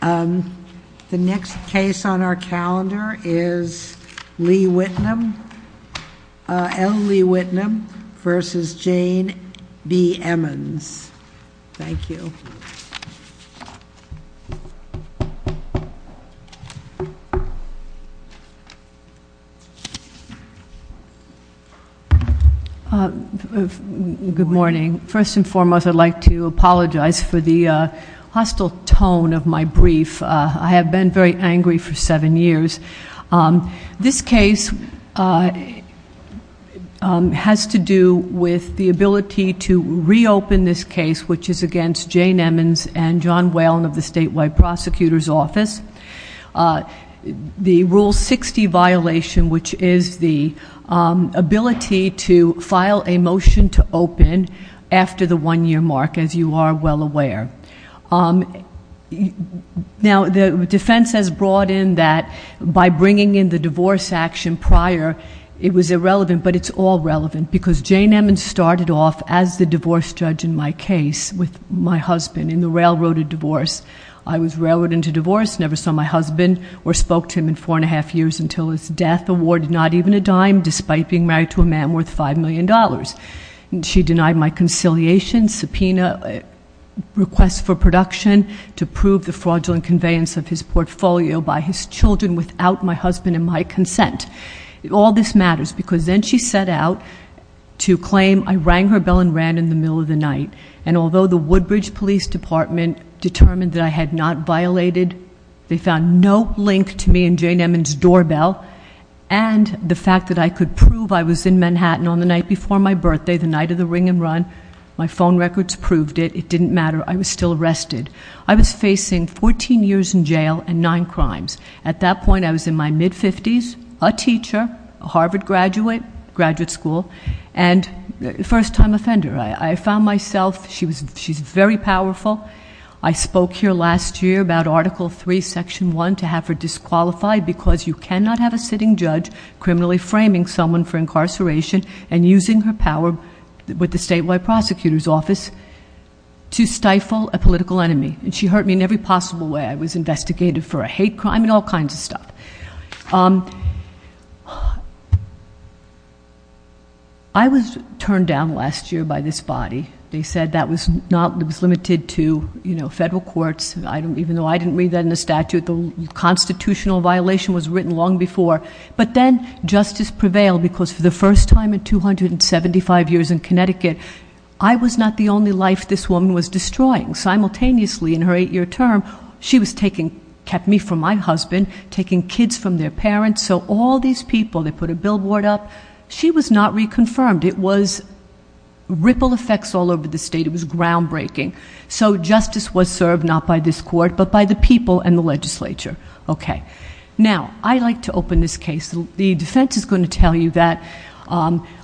The next case on our calendar is L. Lee Whitnum v. Jane B. Emons. Thank you. Good morning. First and foremost, I'd like to apologize for the hostile tone of my brief. I have been very angry for seven years. This case has to do with the ability to reopen this case, which is against Jane Emons and John Whalen of the Statewide Prosecutor's Office. The Rule 60 violation, which is the ability to file a motion to open after the one-year mark, as you are well aware. Now, the defense has brought in that by bringing in the divorce action prior, it was irrelevant, but it's all relevant, because Jane Emons started off as the divorce judge in my case with my husband in the railroad of divorce. I was railroaded into divorce, never saw my husband or spoke to him in four and a half years until his death, awarded not even a dime despite being married to a man worth $5 million. She denied my conciliation, subpoena requests for production to prove the fraudulent conveyance of his portfolio by his children without my husband and my consent. All this matters, because then she set out to claim I rang her bell and ran in the middle of the night, and although the Woodbridge Police Department determined that I had not violated, they found no link to me and Jane Emons' doorbell, and the fact that I could prove I was in Manhattan on the night before my birthday, the night of the ring and run, my phone records proved it, it didn't matter, I was still arrested. I was facing 14 years in jail and nine crimes. At that point, I was in my mid-50s, a teacher, a Harvard graduate, graduate school, and first-time offender. I found myself, she's very powerful. I spoke here last year about Article III, Section 1, to have her disqualified, because you cannot have a sitting judge criminally framing someone for incarceration and using her power with the statewide prosecutor's office to stifle a political enemy. And she hurt me in every possible way. I was investigated for a hate crime and all kinds of stuff. I was turned down last year by this body. They said that was not, it was limited to, you know, federal courts. Even though I didn't read that in the statute, the constitutional violation was written long before. But then justice prevailed because for the first time in 275 years in Connecticut, I was not the only life this woman was destroying. Simultaneously, in her eight-year term, she was taking, kept me from my husband, taking kids from their parents. So all these people, they put a billboard up. She was not reconfirmed. It was ripple effects all over the state. It was groundbreaking. So justice was served, not by this court, but by the people and the legislature. Okay. Now, I'd like to open this case. The defense is going to tell you that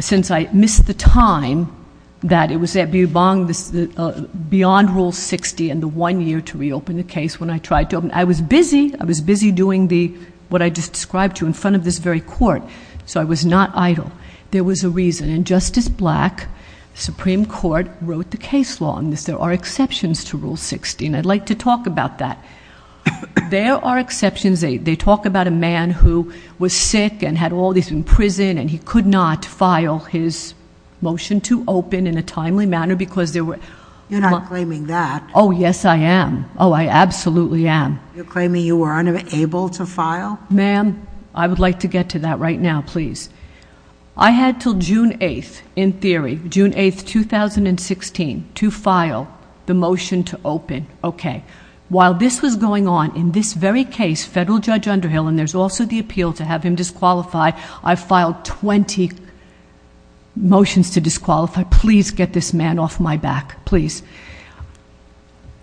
since I missed the time that it was at Butte-u-Bonge beyond Rule 60 and the one year to reopen the case when I tried to open it. I was busy. I was busy doing what I just described to you in front of this very court. So I was not idle. There was a reason, and Justice Black, Supreme Court, wrote the case law on this. There are exceptions to Rule 60, and I'd like to talk about that. There are exceptions. They talk about a man who was sick and had all this in prison, and he could not file his motion to open in a timely manner because there were- You're not claiming that. Oh, yes, I am. Oh, I absolutely am. You're claiming you were unable to file? Ma'am, I would like to get to that right now, please. I had until June 8th, in theory, June 8th, 2016, to file the motion to open. Okay. While this was going on, in this very case, Federal Judge Underhill, and there's also the appeal to have him disqualify, I filed 20 motions to disqualify. Please get this man off my back. Please.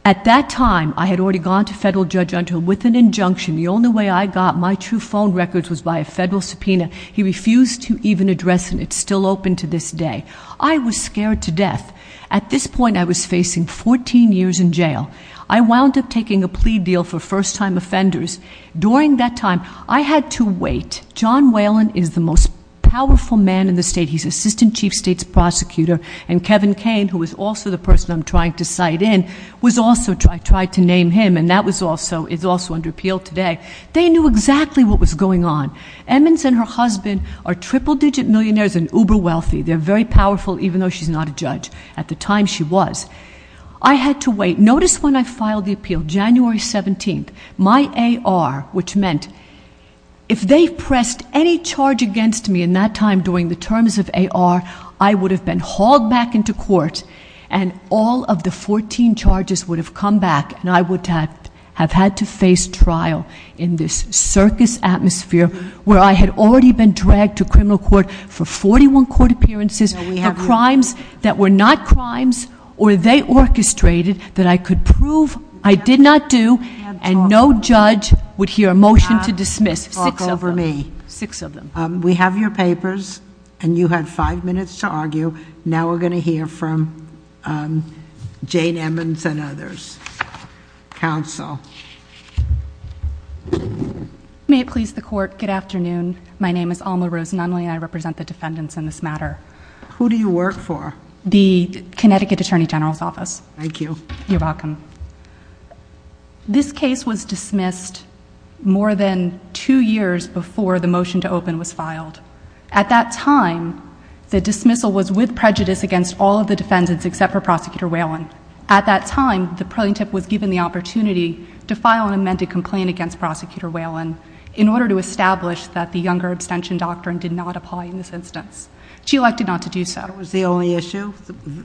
At that time, I had already gone to Federal Judge Underhill with an injunction. The only way I got my true phone records was by a federal subpoena. He refused to even address, and it's still open to this day. I was scared to death. At this point, I was facing 14 years in jail. I wound up taking a plea deal for first-time offenders. During that time, I had to wait. John Whalen is the most powerful man in the state. He's Assistant Chief of State's prosecutor, and Kevin Kane, who is also the person I'm trying to cite in, was also tried to name him, and that was also under appeal today. They knew exactly what was going on. Emmons and her husband are triple-digit millionaires and uber-wealthy. They're very powerful, even though she's not a judge. At the time, she was. I had to wait. Notice when I filed the appeal, January 17th, my AR, which meant if they pressed any charge against me in that time during the terms of AR, I would have been hauled back into court, and all of the 14 charges would have come back, and I would have had to face trial in this circus atmosphere where I had already been dragged to criminal court for 41 court appearances, the crimes that were not crimes or they orchestrated that I could prove I did not do, and no judge would hear a motion to dismiss, six of them. Talk over me. Six of them. We have your papers, and you had five minutes to argue. Now, we're going to hear from Jane Emmons and others. Counsel. May it please the court, good afternoon. My name is Alma Rose Nunley, and I represent the defendants in this matter. Who do you work for? The Connecticut Attorney General's Office. Thank you. You're welcome. This case was dismissed more than two years before the motion to open was filed. At that time, the dismissal was with prejudice against all of the defendants except for Prosecutor Whelan. At that time, the plaintiff was given the opportunity to file an amended complaint against Prosecutor Whelan in order to establish that the younger abstention doctrine did not apply in this instance. She elected not to do so. That was the only issue?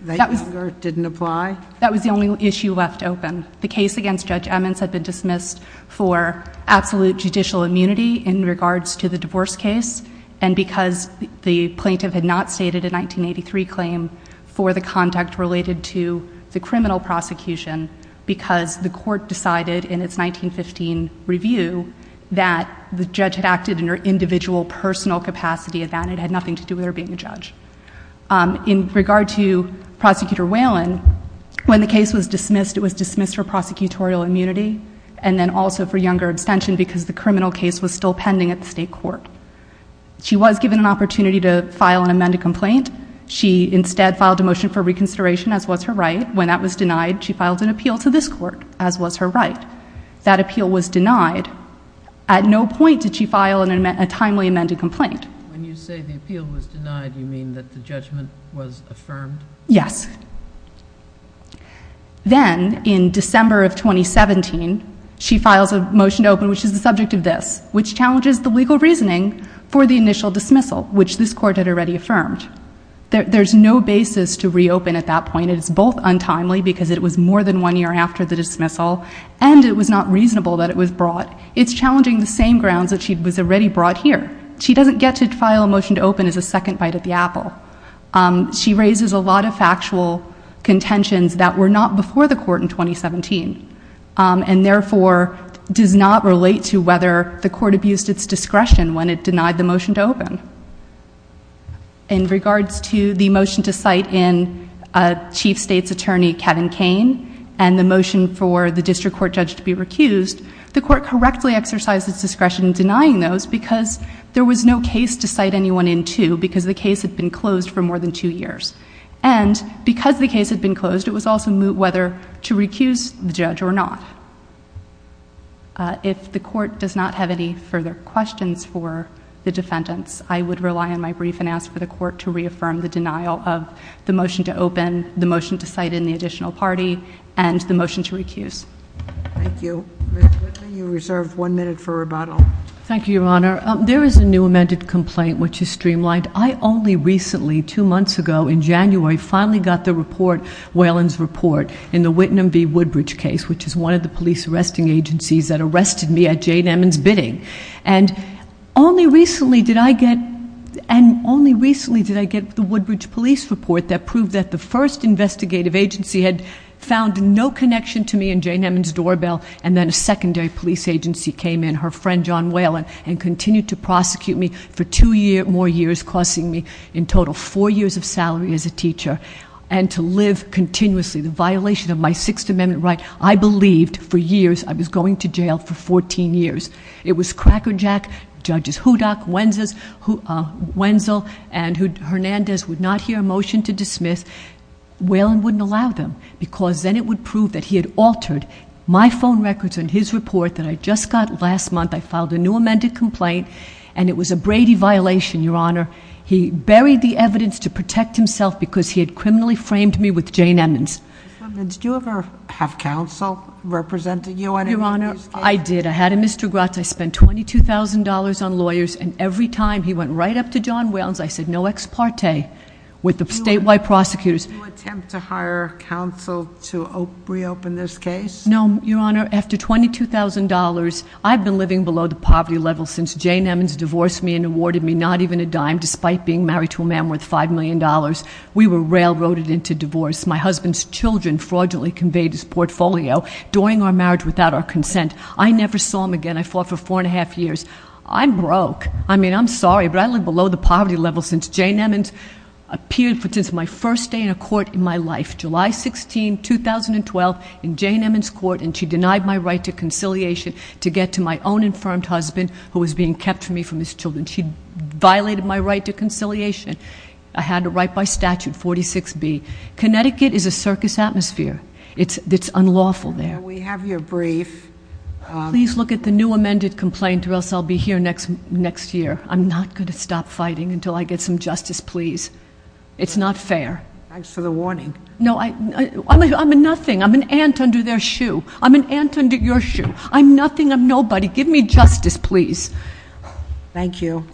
That younger didn't apply? That was the only issue left open. The case against Judge Emmons had been dismissed for absolute judicial immunity in regards to the divorce case, and because the plaintiff had not stated a 1983 claim for the conduct related to the criminal prosecution, because the court decided in its 1915 review that the judge had acted in her individual personal capacity, and it had nothing to do with her being a judge. In regard to Prosecutor Whelan, when the case was dismissed, it was dismissed for prosecutorial immunity, and then also for younger abstention because the criminal case was still pending at the state court. She was given an opportunity to file an amended complaint. She instead filed a motion for reconsideration, as was her right. When that was denied, she filed an appeal to this court, as was her right. That appeal was denied. At no point did she file a timely amended complaint. When you say the appeal was denied, you mean that the judgment was affirmed? Yes. Then, in December of 2017, she files a motion to open, which is the subject of this, which challenges the legal reasoning for the initial dismissal, which this court had already affirmed. There's no basis to reopen at that point. It is both untimely, because it was more than one year after the dismissal, and it was not reasonable that it was brought. It's challenging the same grounds that she was already brought here. She doesn't get to file a motion to open as a second bite at the apple. She raises a lot of factual contentions that were not before the court in 2017, and therefore does not relate to whether the court abused its discretion when it denied the motion to open. In regards to the motion to cite in Chief State's Attorney Kevin Kane and the motion for the district court judge to be recused, the court correctly exercised its discretion in denying those because there was no case to cite anyone into because the case had been closed for more than two years. Because the case had been closed, it was also whether to recuse the judge or not. If the court does not have any further questions for the defendants, I would rely on my brief and ask for the court to reaffirm the denial of the motion to open, the motion to cite in the additional party, and the motion to recuse. Thank you. Ms. Whitley, you're reserved one minute for rebuttal. Thank you, Your Honor. There is a new amended complaint which is streamlined. I only recently, two months ago in January, finally got the report, Whalen's report, in the Whitman v. Woodbridge case, which is one of the police arresting agencies that arrested me at Jane Emmons' bidding. And only recently did I get the Woodbridge police report that proved that the first investigative agency had found no connection to me in Jane Emmons' doorbell and then a secondary police agency came in, her friend John Whalen, and continued to prosecute me for two more years, costing me in total four years of salary as a teacher, and to live continuously the violation of my Sixth Amendment right. I believed for years I was going to jail for 14 years. It was Cracker Jack, Judges Hudock, Wenzel, and Hernandez would not hear a motion to dismiss. Whalen wouldn't allow them because then it would prove that he had altered my phone records and his report that I just got last month. I filed a new amended complaint, and it was a Brady violation, Your Honor. He buried the evidence to protect himself because he had criminally framed me with Jane Emmons. Ms. Woodbridge, did you ever have counsel representing you at any of these cases? Your Honor, I did. I had a Mr. Grotz. I spent $22,000 on lawyers, and every time he went right up to John Whalen's, I said no ex parte with the statewide prosecutors. Did you attempt to hire counsel to reopen this case? No, Your Honor. After $22,000, I've been living below the poverty level since Jane Emmons divorced me and awarded me not even a dime despite being married to a man worth $5 million. We were railroaded into divorce. My husband's children fraudulently conveyed his portfolio during our marriage without our consent. I never saw him again. I fought for four and a half years. I'm broke. I mean, I'm sorry, but I live below the poverty level since Jane Emmons appeared for just my first day in a court in my life, July 16, 2012, in Jane Emmons' court, and she denied my right to conciliation to get to my own infirmed husband who was being kept from me from his children. She violated my right to conciliation. I had a right by statute 46B. Connecticut is a circus atmosphere. It's unlawful there. We have your brief. Please look at the new amended complaint or else I'll be here next year. I'm not going to stop fighting until I get some justice, please. It's not fair. Thanks for the warning. No, I'm nothing. I'm an ant under their shoe. I'm an ant under your shoe. I'm nothing. I'm nobody. Give me justice, please. Thank you.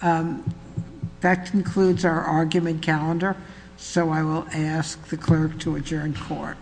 That concludes our argument calendar, so I will ask the clerk to adjourn court. Court is adjourned.